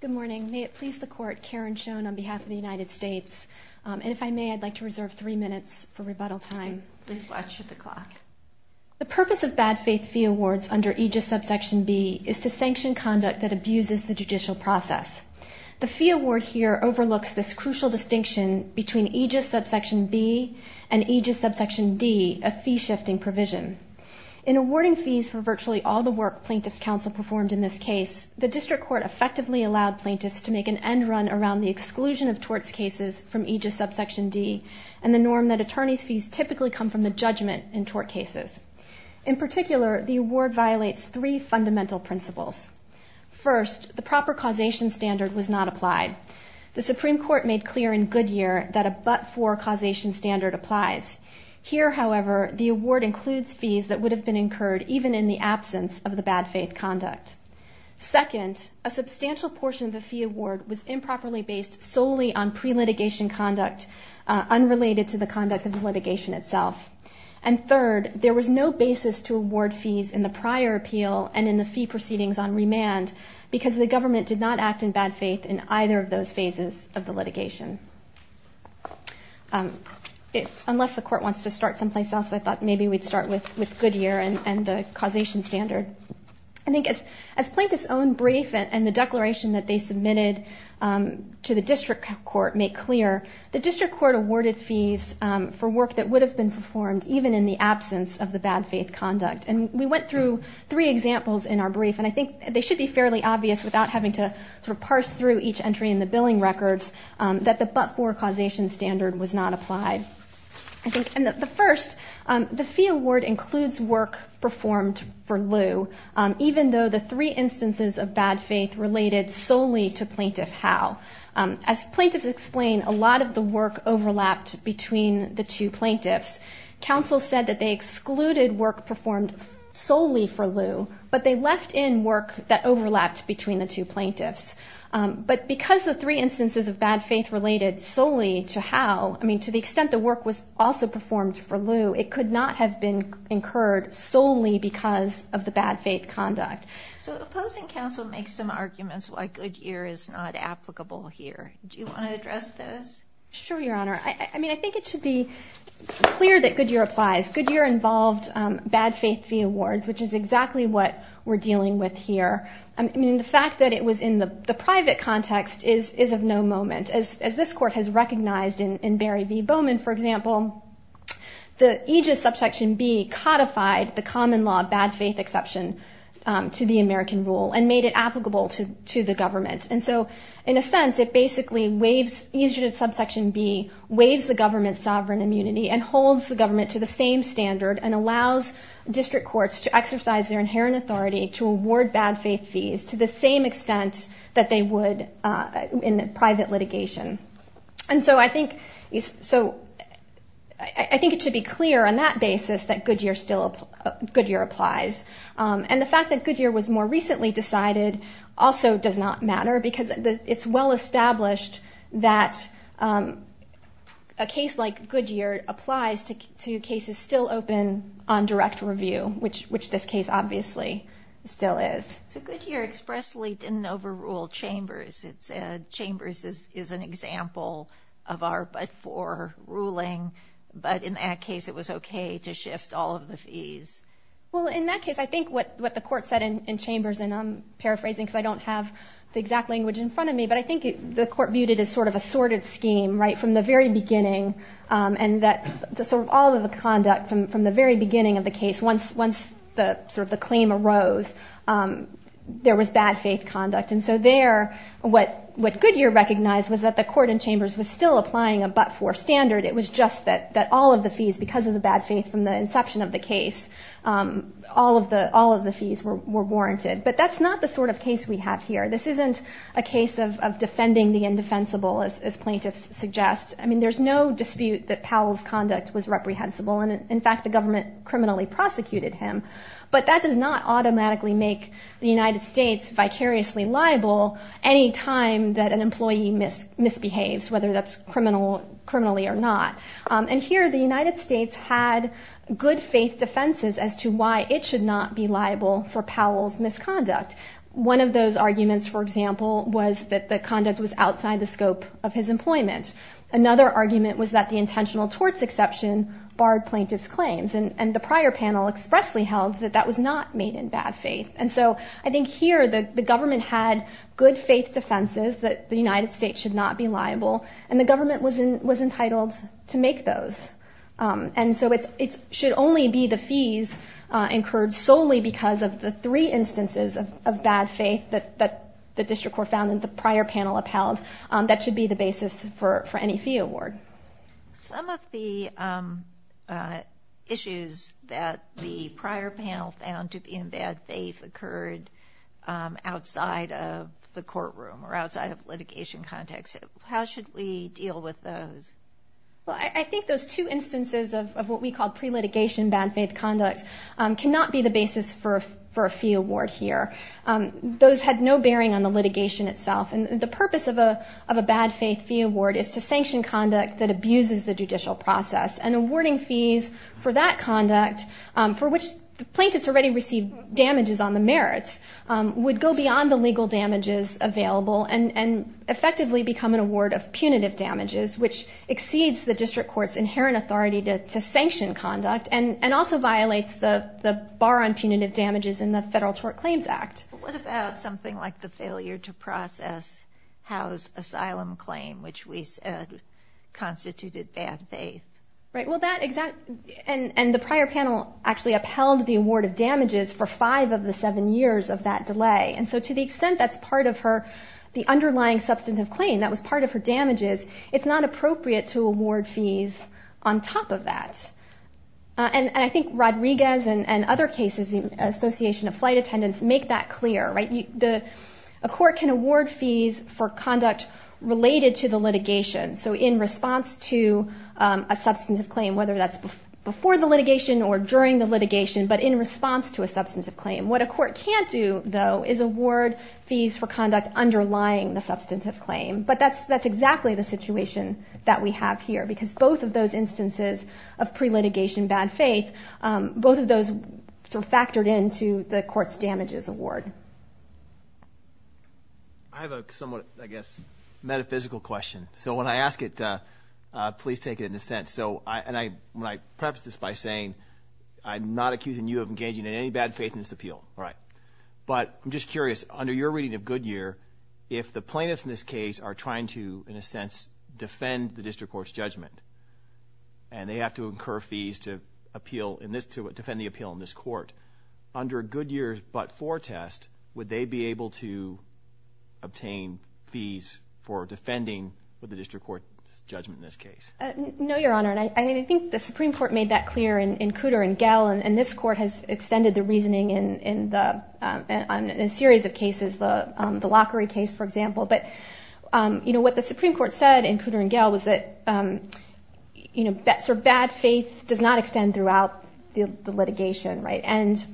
Good morning. May it please the Court, Karen Schoen on behalf of the United States. And if I may, I'd like to reserve three minutes for rebuttal time. Please watch the clock. The purpose of bad faith fee awards under aegis subsection B is to sanction conduct that abuses the judicial process. The fee award here overlooks this crucial distinction between aegis subsection B and aegis subsection D, a fee shifting provision. In awarding fees for virtually all the work a plaintiff's counsel performed in this case, the district court effectively allowed plaintiffs to make an end run around the exclusion of torts cases from aegis subsection D and the norm that attorneys' fees typically come from the judgment in tort cases. In particular, the award violates three fundamental principles. First, the proper causation standard was not applied. The Supreme Court made clear in Goodyear that a but-for causation standard applies. Here, however, the award includes fees that would have been incurred even in the case of bad faith conduct. Second, a substantial portion of the fee award was improperly based solely on pre-litigation conduct unrelated to the conduct of the litigation itself. And third, there was no basis to award fees in the prior appeal and in the fee proceedings on remand because the government did not act in bad faith in either of those phases of the litigation. Unless the court wants to start someplace else, I thought maybe we'd start with Goodyear and the causation standard. I think as plaintiffs' own brief and the declaration that they submitted to the district court make clear, the district court awarded fees for work that would have been performed even in the absence of the bad faith conduct. And we went through three examples in our brief, and I think they should be fairly obvious without having to sort of parse through each entry in the billing records, that the but-for causation standard was not applied. I think, and the first, the fee award includes work performed for lieu, even though the three instances of bad faith related solely to plaintiff how. As plaintiffs explain, a lot of the work overlapped between the two plaintiffs. Counsel said that they excluded work performed solely for lieu, but they left in work that overlapped between the two I mean, to the extent the work was also performed for lieu, it could not have been incurred solely because of the bad faith conduct. So opposing counsel makes some arguments why Goodyear is not applicable here. Do you want to address those? Sure, Your Honor. I mean, I think it should be clear that Goodyear applies. Goodyear involved bad faith fee awards, which is exactly what we're dealing with here. I mean, the fact that it was in the private context is of no moment. As this court has recognized in Barry v. Bowman, for example, the Aegis subsection B codified the common law bad faith exception to the American rule and made it applicable to the government. And so in a sense, it basically waives, Aegis subsection B waives the government's sovereign immunity and holds the government to the same standard and allows district courts to exercise their inherent authority to award bad faith fees to the same extent that they would in private litigation. And so I think, so I think it should be clear on that basis that Goodyear still applies. And the fact that Goodyear was more recently decided also does not matter because it's well established that a case like Goodyear applies to cases still open on direct review, which this case obviously still is. So Goodyear expressly didn't overrule Chambers. It said Chambers is an example of our but-for ruling. But in that case, it was okay to shift all of the fees. Well, in that case, I think what the court said in Chambers, and I'm paraphrasing because I don't have the exact language in front of me, but I think the court viewed it as sort of a sorted scheme, right, from the very beginning. And that sort of all of the conduct from the very beginning of the case, there was bad faith conduct. And so there, what Goodyear recognized was that the court in Chambers was still applying a but-for standard. It was just that all of the fees, because of the bad faith from the inception of the case, all of the fees were warranted. But that's not the sort of case we have here. This isn't a case of defending the indefensible, as plaintiffs suggest. I mean, there's no dispute that Powell's conduct was reprehensible. And in fact, the government criminally prosecuted him. But that does not automatically make the United States vicariously liable any time that an employee misbehaves, whether that's criminally or not. And here, the United States had good faith defenses as to why it should not be liable for Powell's misconduct. One of those arguments, for example, was that the conduct was outside the scope of his employment. Another argument was that the intentional torts exception barred plaintiffs' claims. And the prior panel expressly held that that was not made in bad faith. And so, I think here, the government had good faith defenses that the United States should not be liable, and the government was entitled to make those. And so, it should only be the fees incurred solely because of the three instances of bad faith that the district court found and the prior panel upheld. That should be the basis for any fee award. Some of the issues that the prior panel found to be in bad faith occurred outside of the courtroom or outside of litigation context. How should we deal with those? Well, I think those two instances of what we call pre-litigation bad faith conduct cannot be the basis for a fee award here. Those had no bearing on the litigation itself. And the purpose of a bad faith fee award is to sanction conduct that abuses the judicial process. And awarding fees for that conduct, for which the plaintiffs already received damages on the merits, would go beyond the legal damages available and effectively become an award of punitive damages, which exceeds the district court's inherent authority to sanction conduct and also violates the bar on punitive damages in the Federal Tort Claims Act. What about something like the failure to process Howe's asylum claim, which we believe constituted bad faith? Right. Well, that exact... And the prior panel actually upheld the award of damages for five of the seven years of that delay. And so to the extent that's part of her, the underlying substantive claim that was part of her damages, it's not appropriate to award fees on top of that. And I think Rodriguez and other cases, the Association of Flight Attendants, make that clear. A court can So in response to a substantive claim, whether that's before the litigation or during the litigation, but in response to a substantive claim, what a court can't do, though, is award fees for conduct underlying the substantive claim. But that's exactly the situation that we have here, because both of those instances of pre-litigation bad faith, both of those sort of factored into the court's damages award. I have a somewhat, I guess, metaphysical question. So when I ask it, please take it in a sense. So I, and I, when I preface this by saying, I'm not accusing you of engaging in any bad faith in this appeal. Right. But I'm just curious, under your reading of Goodyear, if the plaintiffs in this case are trying to, in a sense, defend the district court's judgment, and they have to incur fees to appeal in this court, under Goodyear's but-for test, would they be able to obtain fees for defending the district court's judgment in this case? No, Your Honor. And I mean, I think the Supreme Court made that clear in Cooter and Gell, and this court has extended the reasoning in a series of cases, the Lockery case, for example. But you know, what the Supreme Court said in Cooter and Gell was that, you know, that bad faith does not extend throughout the litigation. Right. And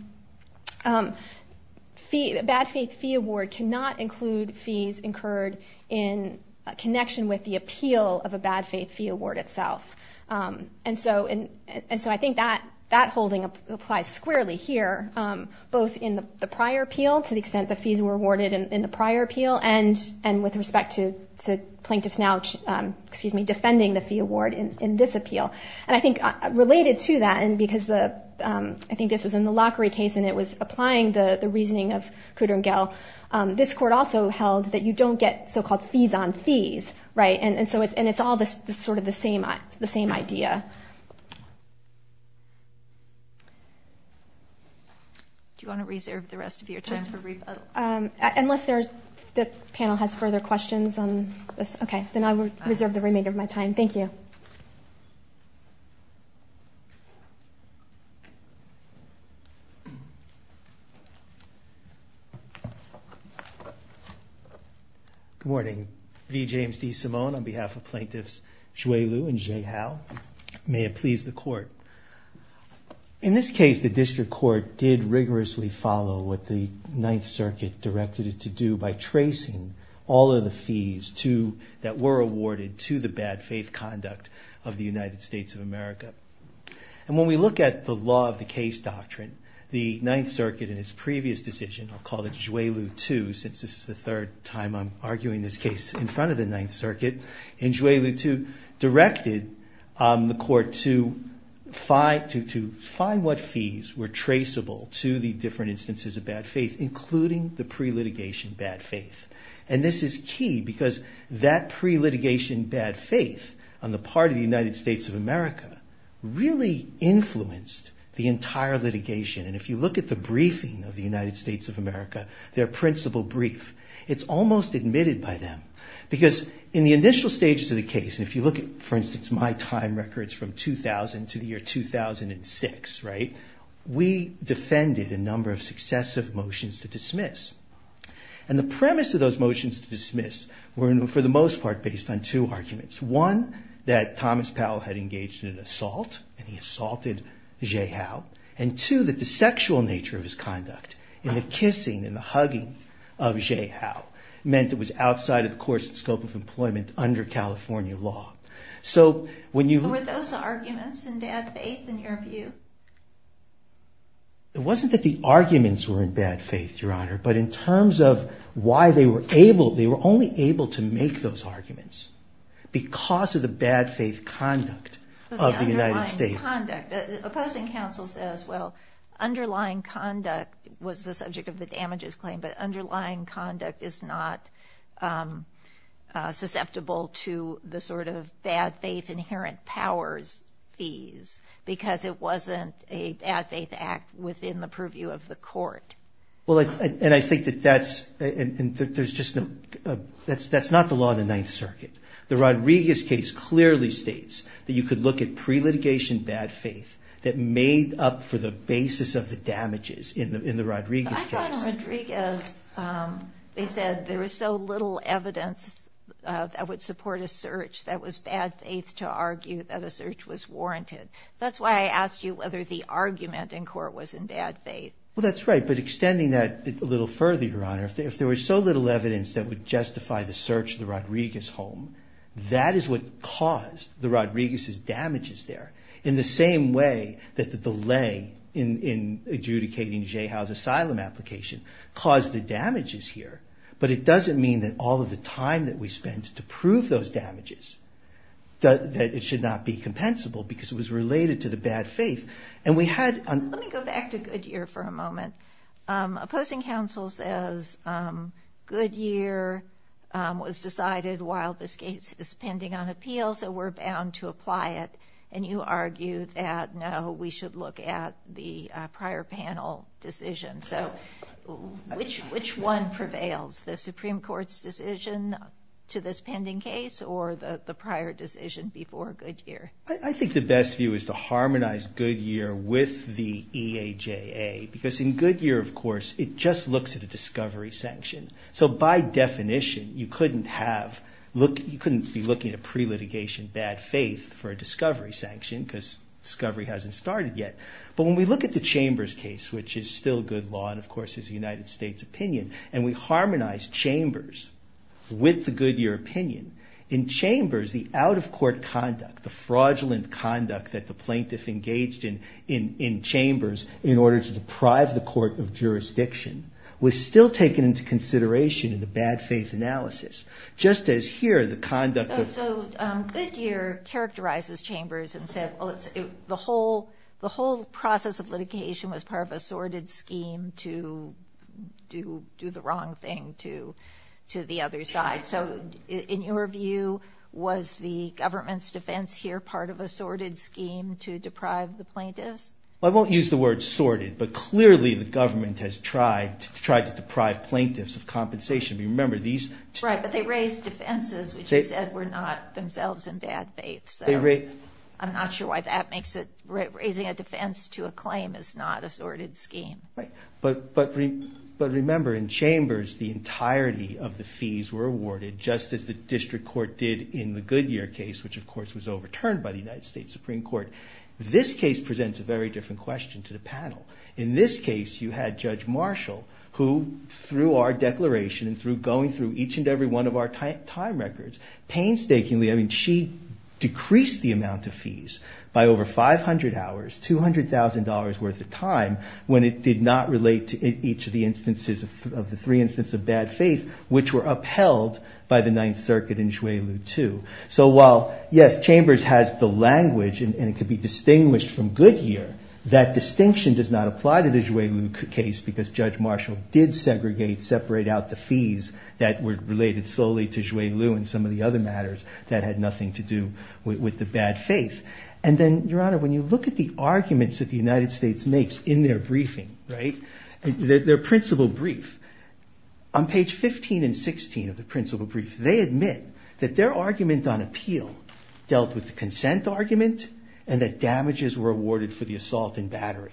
bad faith fee award cannot include fees incurred in connection with the appeal of a bad faith fee award itself. And so I think that holding applies squarely here, both in the prior appeal, to the extent the fees were awarded in the prior appeal, and with respect to plaintiffs now, excuse me, defending the fee award in this appeal. And I think related to that, and because I think this was in the Lockery case, and it was applying the reasoning of Cooter and Gell, this court also held that you don't get so-called fees-on-fees. Right. And it's all sort of the same idea. Do you want to reserve the rest of your time for rebuttal? Unless the panel has further questions on this. Okay. Then I will reserve the remainder of my time. Thank you. Good morning. V. James D. Simone on behalf of plaintiffs Zhui Liu and Zhe Hao. May it please the Court. In this case, the District Court did rigorously follow what the Ninth Circuit directed it to do by tracing all of the fees that were awarded to the bad faith conduct of the United States of America. And when we look at the law of the case doctrine, the Ninth Circuit in its previous decision, I'll call it Zhui Liu II, since this is the third time I'm arguing this case in front of the Ninth Circuit, and Zhui Liu II directed the Court to find what fees were traceable to the different instances of bad faith, including the pre-litigation bad faith. And this is key because that pre-litigation bad faith on the part of the United States of America really influenced the entire litigation. And if you look at the briefing of the United States of America, their principal brief, it's almost admitted by them. Because in the initial stages of the case, and if you look at, for instance, my time records from 2000 to the year 2006, we defended a number of successive motions to dismiss. And the premise of those motions to dismiss were, for the most part, based on two arguments. One, that Thomas Powell had engaged in an assault, and he assaulted Zhui Liu, and two, that the sexual nature of his conduct in the kissing and the hugging of Zhui Liu meant it was So, when you- Were those arguments in bad faith, in your view? It wasn't that the arguments were in bad faith, Your Honor, but in terms of why they were able, they were only able to make those arguments because of the bad faith conduct of the United States. The underlying conduct. The opposing counsel says, well, underlying conduct was the subject of the damages claim, but underlying conduct is not susceptible to the bad faith inherent powers fees, because it wasn't a bad faith act within the purview of the court. Well, and I think that that's, and there's just no, that's not the law in the Ninth Circuit. The Rodriguez case clearly states that you could look at pre- litigation bad faith that made up for the basis of the damages in the Rodriguez case. I thought in Rodriguez, they said there was so little evidence that would support a search that was bad faith to argue that a search was warranted. That's why I asked you whether the argument in court was in bad faith. Well, that's right, but extending that a little further, Your Honor, if there was so little evidence that would justify the search of the Rodriguez home, that is what caused the Rodriguez's damages there. In the same way that the delay in adjudicating Zhe Hao's asylum application caused the damages here, but it doesn't mean that all of the time that we spent to prove those damages, that it should not be compensable because it was related to the bad faith. And we had... Let me go back to Goodyear for a moment. Opposing counsel says Goodyear was decided while this case is pending on appeal, so we're bound to apply it. And you argue that, no, we should look at the prior panel decision. So which one prevails? The Supreme Court's decision to this pending case or the prior decision before Goodyear? I think the best view is to harmonize Goodyear with the EAJA because in Goodyear, of course, it just looks at a discovery sanction. So by definition, you couldn't have... You couldn't be looking at pre-litigation bad faith for a discovery sanction because discovery hasn't started yet. But when we look at the Chambers case, which is still good law and, of course, is a United States opinion, and we harmonize Chambers with the Goodyear opinion, in Chambers, the out-of-court conduct, the fraudulent conduct that the plaintiff engaged in in Chambers in order to deprive the court of jurisdiction was still taken into consideration in the bad faith analysis. Just as here, the conduct of... The whole process of litigation was part of a sordid scheme to do the wrong thing to the other side. So in your view, was the government's defense here part of a sordid scheme to deprive the plaintiffs? Well, I won't use the word sordid, but clearly, the government has tried to deprive plaintiffs of compensation. We remember these... Right, but they raised defenses, which you said were not themselves in bad faith. I'm not sure why that makes it... Raising a defense to a claim is not a sordid scheme. Right, but remember, in Chambers, the entirety of the fees were awarded, just as the district court did in the Goodyear case, which, of course, was overturned by the United States Supreme Court. This case presents a very different question to the panel. In this case, you had Judge Marshall, who, through our declaration and through going through each and every one of our time records, painstakingly... amount of fees by over 500 hours, $200,000 worth of time, when it did not relate to each of the instances of the three instances of bad faith, which were upheld by the Ninth Circuit in Juelu, too. So while, yes, Chambers has the language, and it could be distinguished from Goodyear, that distinction does not apply to the Juelu case, because Judge Marshall did segregate, separate out the fees that were related solely to Juelu and some of the other matters that had nothing to do with the bad faith. And then, Your Honor, when you look at the arguments that the United States makes in their briefing, right, their principal brief, on page 15 and 16 of the principal brief, they admit that their argument on appeal dealt with the consent argument and that damages were awarded for the assault and battery.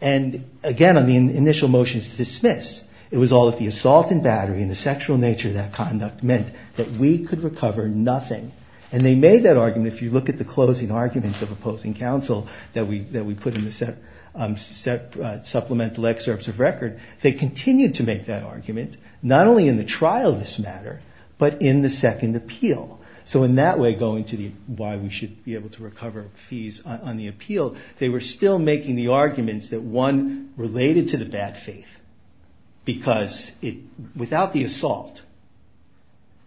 And, again, on the initial motions to dismiss, it was all that the assault and battery and the sexual nature of that conduct meant that we could nothing. And they made that argument, if you look at the closing argument of opposing counsel that we put in the supplemental excerpts of record, they continued to make that argument, not only in the trial of this matter, but in the second appeal. So in that way, going to why we should be able to recover fees on the appeal, they were still making the arguments that, one, related to the bad faith, because without the assault,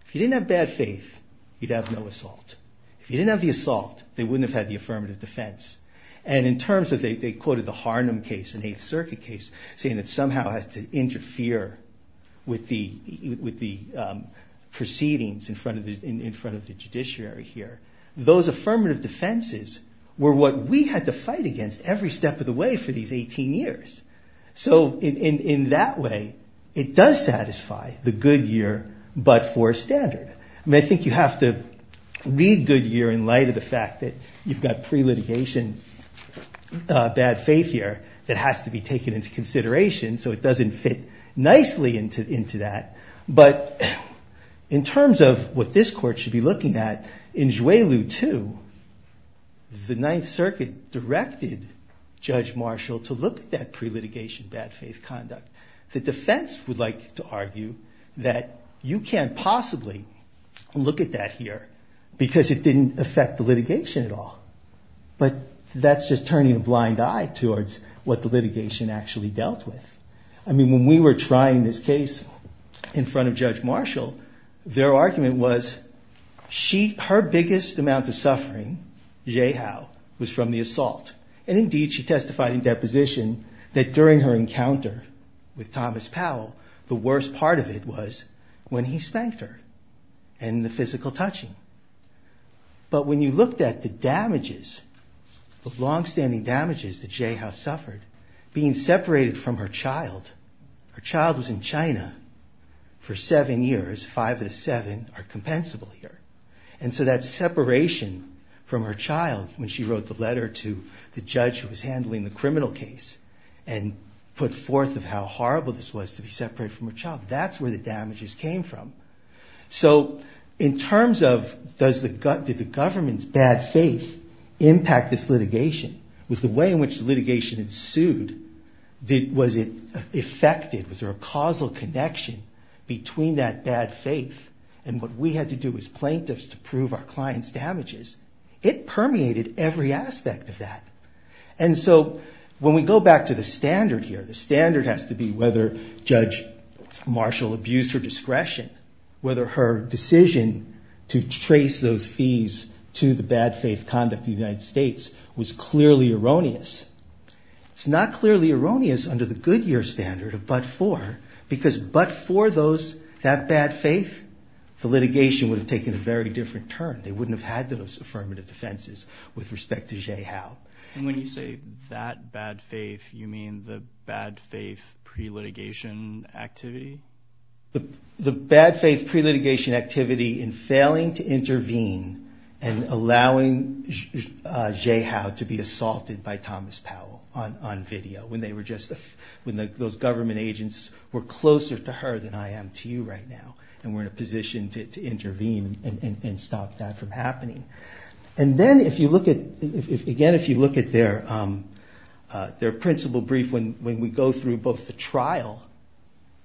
if you didn't have bad faith, you'd have no assault. If you didn't have the assault, they wouldn't have had the affirmative defense. And in terms of, they quoted the Harnum case, an Eighth Circuit case, saying it somehow had to interfere with the proceedings in front of the judiciary here. Those affirmative defenses were what we had to fight against every step of the way for these 18 years. So in that way, it does satisfy the good year, but for a standard. I mean, I think you have to read good year in light of the fact that you've got pre-litigation bad faith here that has to be taken into consideration, so it doesn't fit nicely into that. But in terms of what this court should be looking at, in Juelu 2, the Ninth Circuit directed Judge Marshall to look at that pre-litigation bad faith conduct. The defense would like to argue that you can't possibly look at that here because it didn't affect the litigation at all. But that's just turning a blind eye towards what the litigation actually dealt with. I mean, when we were trying this case in front of Judge Marshall, their argument was, her biggest amount of suffering, Zhe Hao, was from the assault. And indeed, she testified in deposition that during her encounter with Thomas Powell, the worst part of it was when he spanked her and the physical touching. But when you looked at the damages, the longstanding damages that Zhe Hao suffered, being separated from her child, her child was in China for seven years, five of the seven are compensable here. And so that separation from her child, when she wrote the letter to the judge who was handling the criminal case and put forth of how horrible this was to be separated from her child, that's where the damages came from. So in terms of, did the government's bad faith impact this litigation? Was the way in which the litigation ensued, was it affected? Was there a causal connection between that bad faith? And what we had to do as plaintiffs to prove our client's damages, it permeated every aspect of that. And so when we go back to the standard here, the standard has to be whether Judge Marshall abused her discretion, whether her decision to trace those fees to the bad faith conduct of the United States was clearly erroneous. It's not clearly erroneous under the Goodyear standard of but for, because but for those, that bad faith, the litigation would have taken a very different turn. They wouldn't have had those affirmative defenses with respect to Zhe Hao. And when you say that bad faith, you mean the bad faith pre-litigation activity? The bad faith pre-litigation activity in failing to intervene and allowing Zhe Hao to be assaulted by Thomas Powell on video when they were just, when those government agents were closer to her than I am to you right now. And we're in a position to intervene and stop that from happening. And then if you look at, again, if you look at their principle brief, when we go through both the trial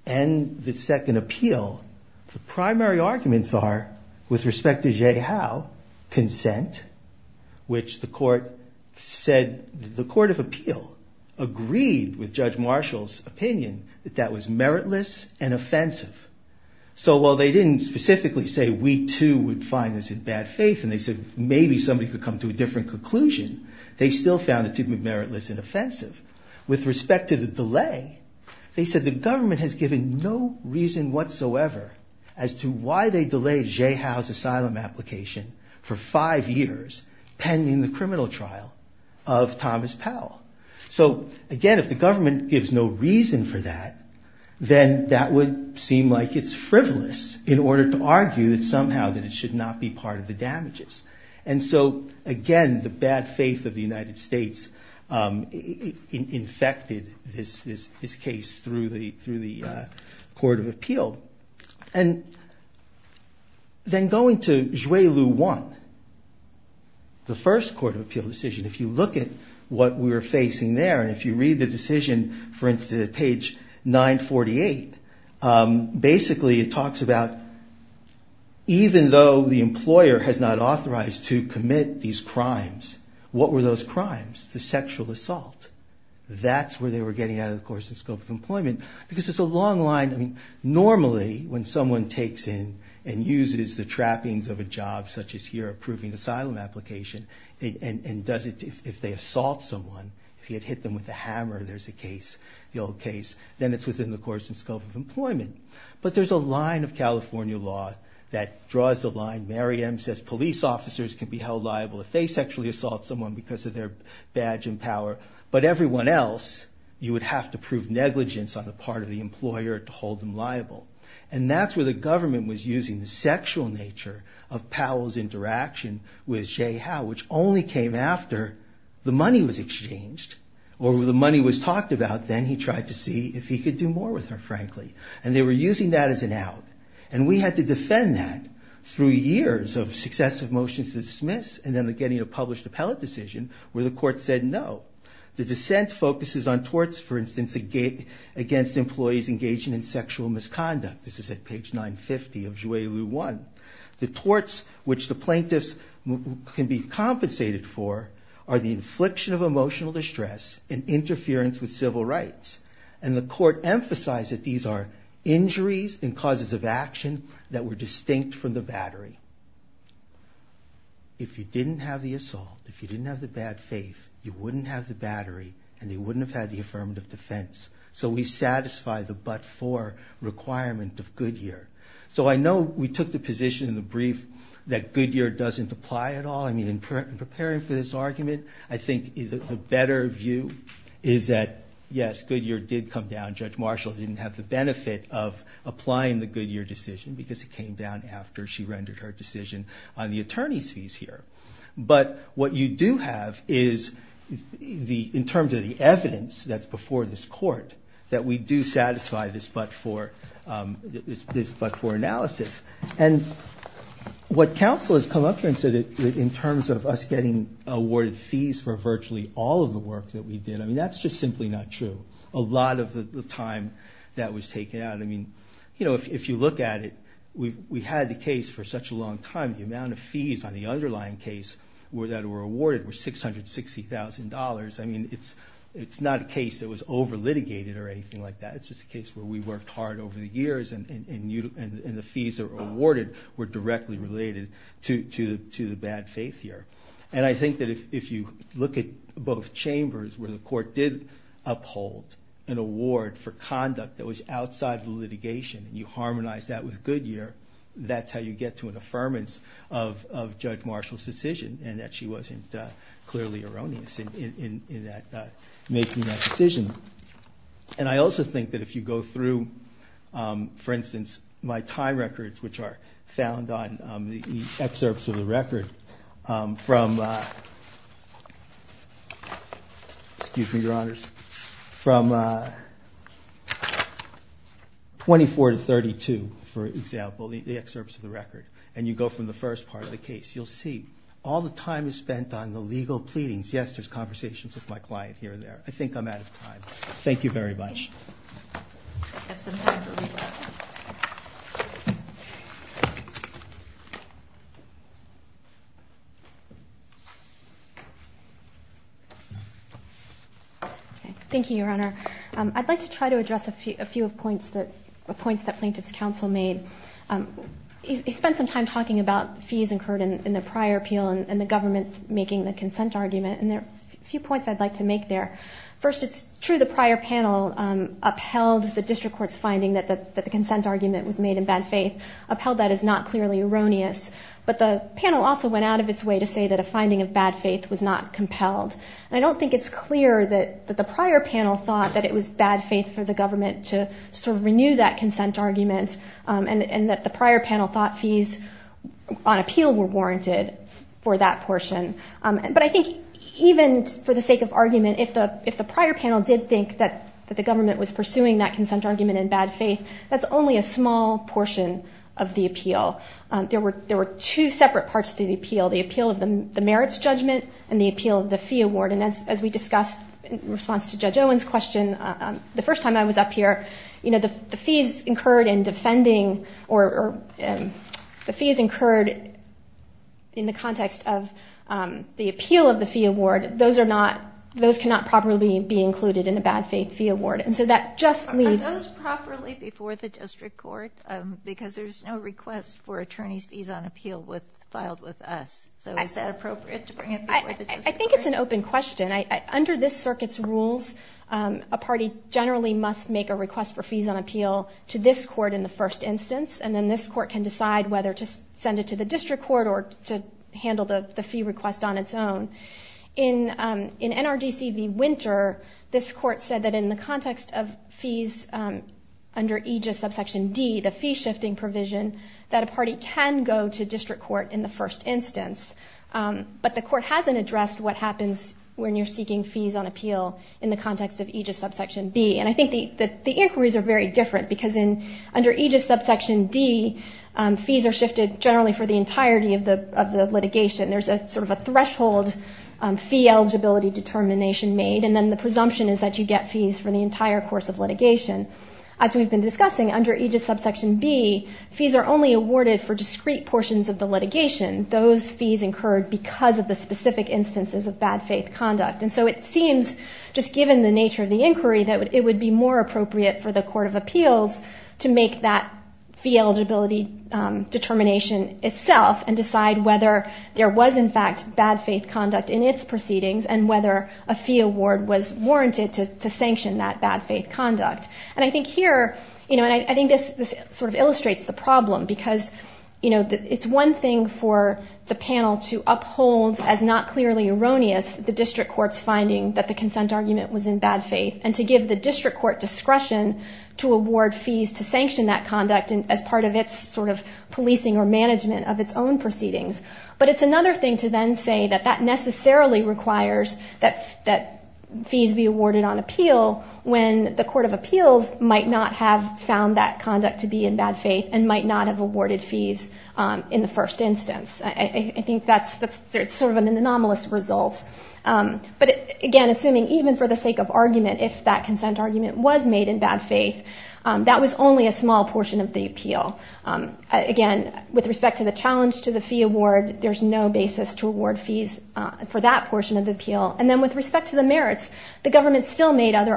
and the second appeal, the primary arguments are with respect to Zhe Hao, consent, which the court said, the court of appeal agreed with Judge Marshall's opinion that that was meritless and offensive. So while they didn't specifically say, we too would find this in bad faith. And they said, maybe somebody could come to a different conclusion. They still found it to be meritless and offensive. With respect to the delay, they said the government has given no reason whatsoever as to why they delayed Zhe Hao's asylum application for five years pending the criminal trial of Thomas Powell. So again, if the government gives no reason for that, then that would seem like it's frivolous in order to argue that somehow that it should not be part of the damages. And so again, the bad faith of the United States infected this case through the court of appeal. And then going to Zhe Lu Wan, the first court of appeal decision, if you look at what we were facing there, and if you read the decision, for instance, at page 948, basically it talks about even though the employer has not authorized to commit these crimes, what were those crimes? The sexual assault. That's where they were getting out of the course and scope of employment because it's a long line. I mean, normally when someone takes in and uses the trappings of a job such as here approving asylum application and does it if they assault someone, if you had hit them with a hammer, there's a case, the old case, then it's within the course and scope of employment. But there's a line of California law that draws the line. Mary M. says police officers can be held liable if they sexually assault someone because of their badge and power, but everyone else you would have to prove negligence on the part of the employer to hold them liable. And that's where the government was using the sexual nature of Powell's interaction with Jay Howe, which only came after the money was exchanged, or the money was talked about. Then he tried to see if he could do more with her, frankly. And they were using that as an out. And we had to defend that through years of successive motions to dismiss and then getting a published appellate decision where the court said no. The dissent focuses on torts, for instance, against employees engaging in sexual misconduct. This is at page 950 of Juilliard 1. The torts which the plaintiffs can be compensated for are the infliction of emotional distress and interference with civil rights. And the court emphasized that these are injuries and causes of action that were distinct from the battery. If you didn't have the assault, if you didn't have the bad faith, you wouldn't have the battery and you wouldn't have had the affirmative defense. So we satisfy the but-for requirement of Goodyear. So I know we took the position in the brief that Goodyear doesn't apply at all. I mean, in preparing for this argument, I think the better view is that, yes, Goodyear did come down. Judge Marshall didn't have the benefit of applying the Goodyear decision because it came down after she rendered her decision on the attorney's fees here. But what you do have is, in terms of the evidence that's before this court, that we do satisfy this but-for analysis. And what counsel has come up with in terms of us getting awarded fees for virtually all of the work that we did, I mean, that's just simply not true. A lot of the time that was taken out, I mean, you know, if you look at it, we had the case for such a long time. The amount of fees on the underlying case that were awarded were $660,000. I mean, it's not a case that was over-litigated or anything like that. It's just a case where we worked hard over the years and the fees that were awarded were directly related to the bad faith here. And I think that if you look at both chambers where the court did uphold an award for conduct that was outside the litigation and you get to an affirmance of Judge Marshall's decision and that she wasn't clearly erroneous in that making that decision. And I also think that if you go through, for instance, my time records which are found on the excerpts of the record from-excuse me, Your Honor. And you go from the first part of the case, you'll see all the time is spent on the legal pleadings. Yes, there's conversations with my client here and there. I think I'm out of time. Thank you very much. Thank you, Your Honor. I'd like to try to address a few of the points that Plaintiff's counsel made. He spent some time talking about fees incurred in the prior appeal and the government's making the consent argument. And there are a few points I'd like to make there. First, it's true the prior panel upheld the district court's finding that the consent argument was made in bad faith. Upheld that is not clearly erroneous. But the panel also went out of its way to say that a finding of bad faith was not compelled. And I don't think it's clear that the prior panel thought that it was bad for the government to sort of renew that consent argument and that the prior panel thought fees on appeal were warranted for that portion. But I think even for the sake of argument, if the prior panel did think that the government was pursuing that consent argument in bad faith, that's only a small portion of the appeal. There were two separate parts to the appeal. The appeal of the merits judgment and the appeal of the fee award. As we discussed in response to Judge Owen's question, the first time I was up here, the fees incurred in defending or the fees incurred in the context of the appeal of the fee award, those cannot properly be included in a bad faith fee award. And so that just leaves... Are those properly before the district court? Because there's no request for attorney's fees on appeal filed with us. So is that appropriate to bring it before the district court? I think it's an open question. Under this circuit's rules, a party generally must make a request for fees on appeal to this court in the first instance. And then this court can decide whether to send it to the district court or to handle the fee request on its own. In NRDC v. Winter, this court said that in the context of fees under EGIS subsection D, the fee shifting provision, that a party can go to district court in the first instance. But the court hasn't addressed what happens when you're seeking fees on appeal in the context of EGIS subsection B. And I think the inquiries are very different because under EGIS subsection D, fees are shifted generally for the entirety of the litigation. There's sort of a threshold fee eligibility determination made. And then the presumption is that you get fees for the entire course of litigation. As we've been discussing, under EGIS subsection B, fees are only awarded for discrete portions of the litigation. Those fees incurred because of the specific instances of bad faith conduct. And so it seems, just given the nature of the inquiry, that it would be more appropriate for the Court of Appeals to make that fee eligibility determination itself and decide whether there was, in fact, bad faith conduct in its proceedings and whether a fee award was warranted to sanction that bad faith conduct. And I think here, you know, and I think this sort of illustrates the problem because, you know, it's one thing for the panel to uphold as not clearly erroneous the district court's finding that the consent argument was in bad faith and to give the district court discretion to award fees to sanction that conduct as part of its sort of policing or management of its own proceedings. But it's another thing to then say that that necessarily requires that fees be awarded on appeal when the Court of Appeals might not have found that fees in the first instance. I think that's sort of an anomalous result. But again, assuming even for the sake of argument, if that consent argument was made in bad faith, that was only a small portion of the appeal. Again, with respect to the challenge to the fee award, there's no basis to award fees for that portion of the appeal. And then with respect to the merits, the government still made other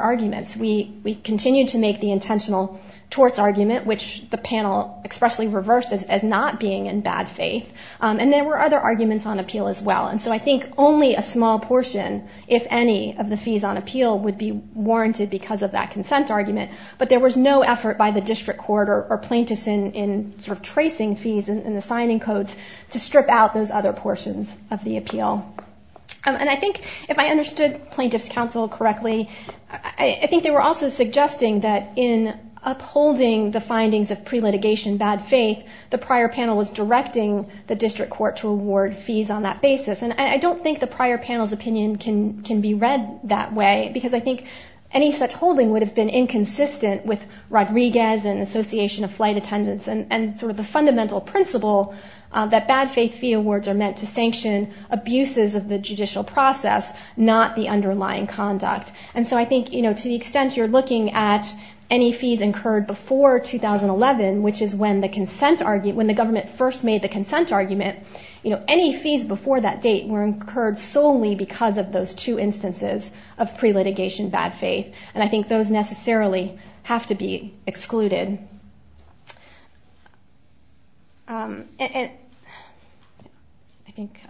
We continued to make the intentional torts argument, which the panel expressly reversed as not being in bad faith. And there were other arguments on appeal as well. And so I think only a small portion, if any, of the fees on appeal would be warranted because of that consent argument. But there was no effort by the district court or plaintiffs in sort of tracing fees and the signing codes to strip out those other portions of the appeal. And I think if I understood plaintiffs' counsel correctly, I think they were also suggesting that in upholding the findings of pre-litigation bad faith, the prior panel was directing the district court to award fees on that basis. And I don't think the prior panel's opinion can be read that way because I think any such holding would have been inconsistent with Rodriguez and Association of Flight Attendants and sort of the fundamental principle that bad faith fee awards are meant to sanction abuses of the judicial process, not the underlying conduct. And so I think to the extent you're looking at any fees incurred before 2011, which is when the government first made the consent argument, any fees before that date were incurred solely because of those two instances of pre-litigation bad faith. And I think those necessarily have to be excluded. I think,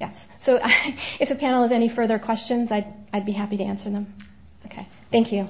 yes. So if the panel has any further questions, I'd be happy to answer them. Okay. Thank you.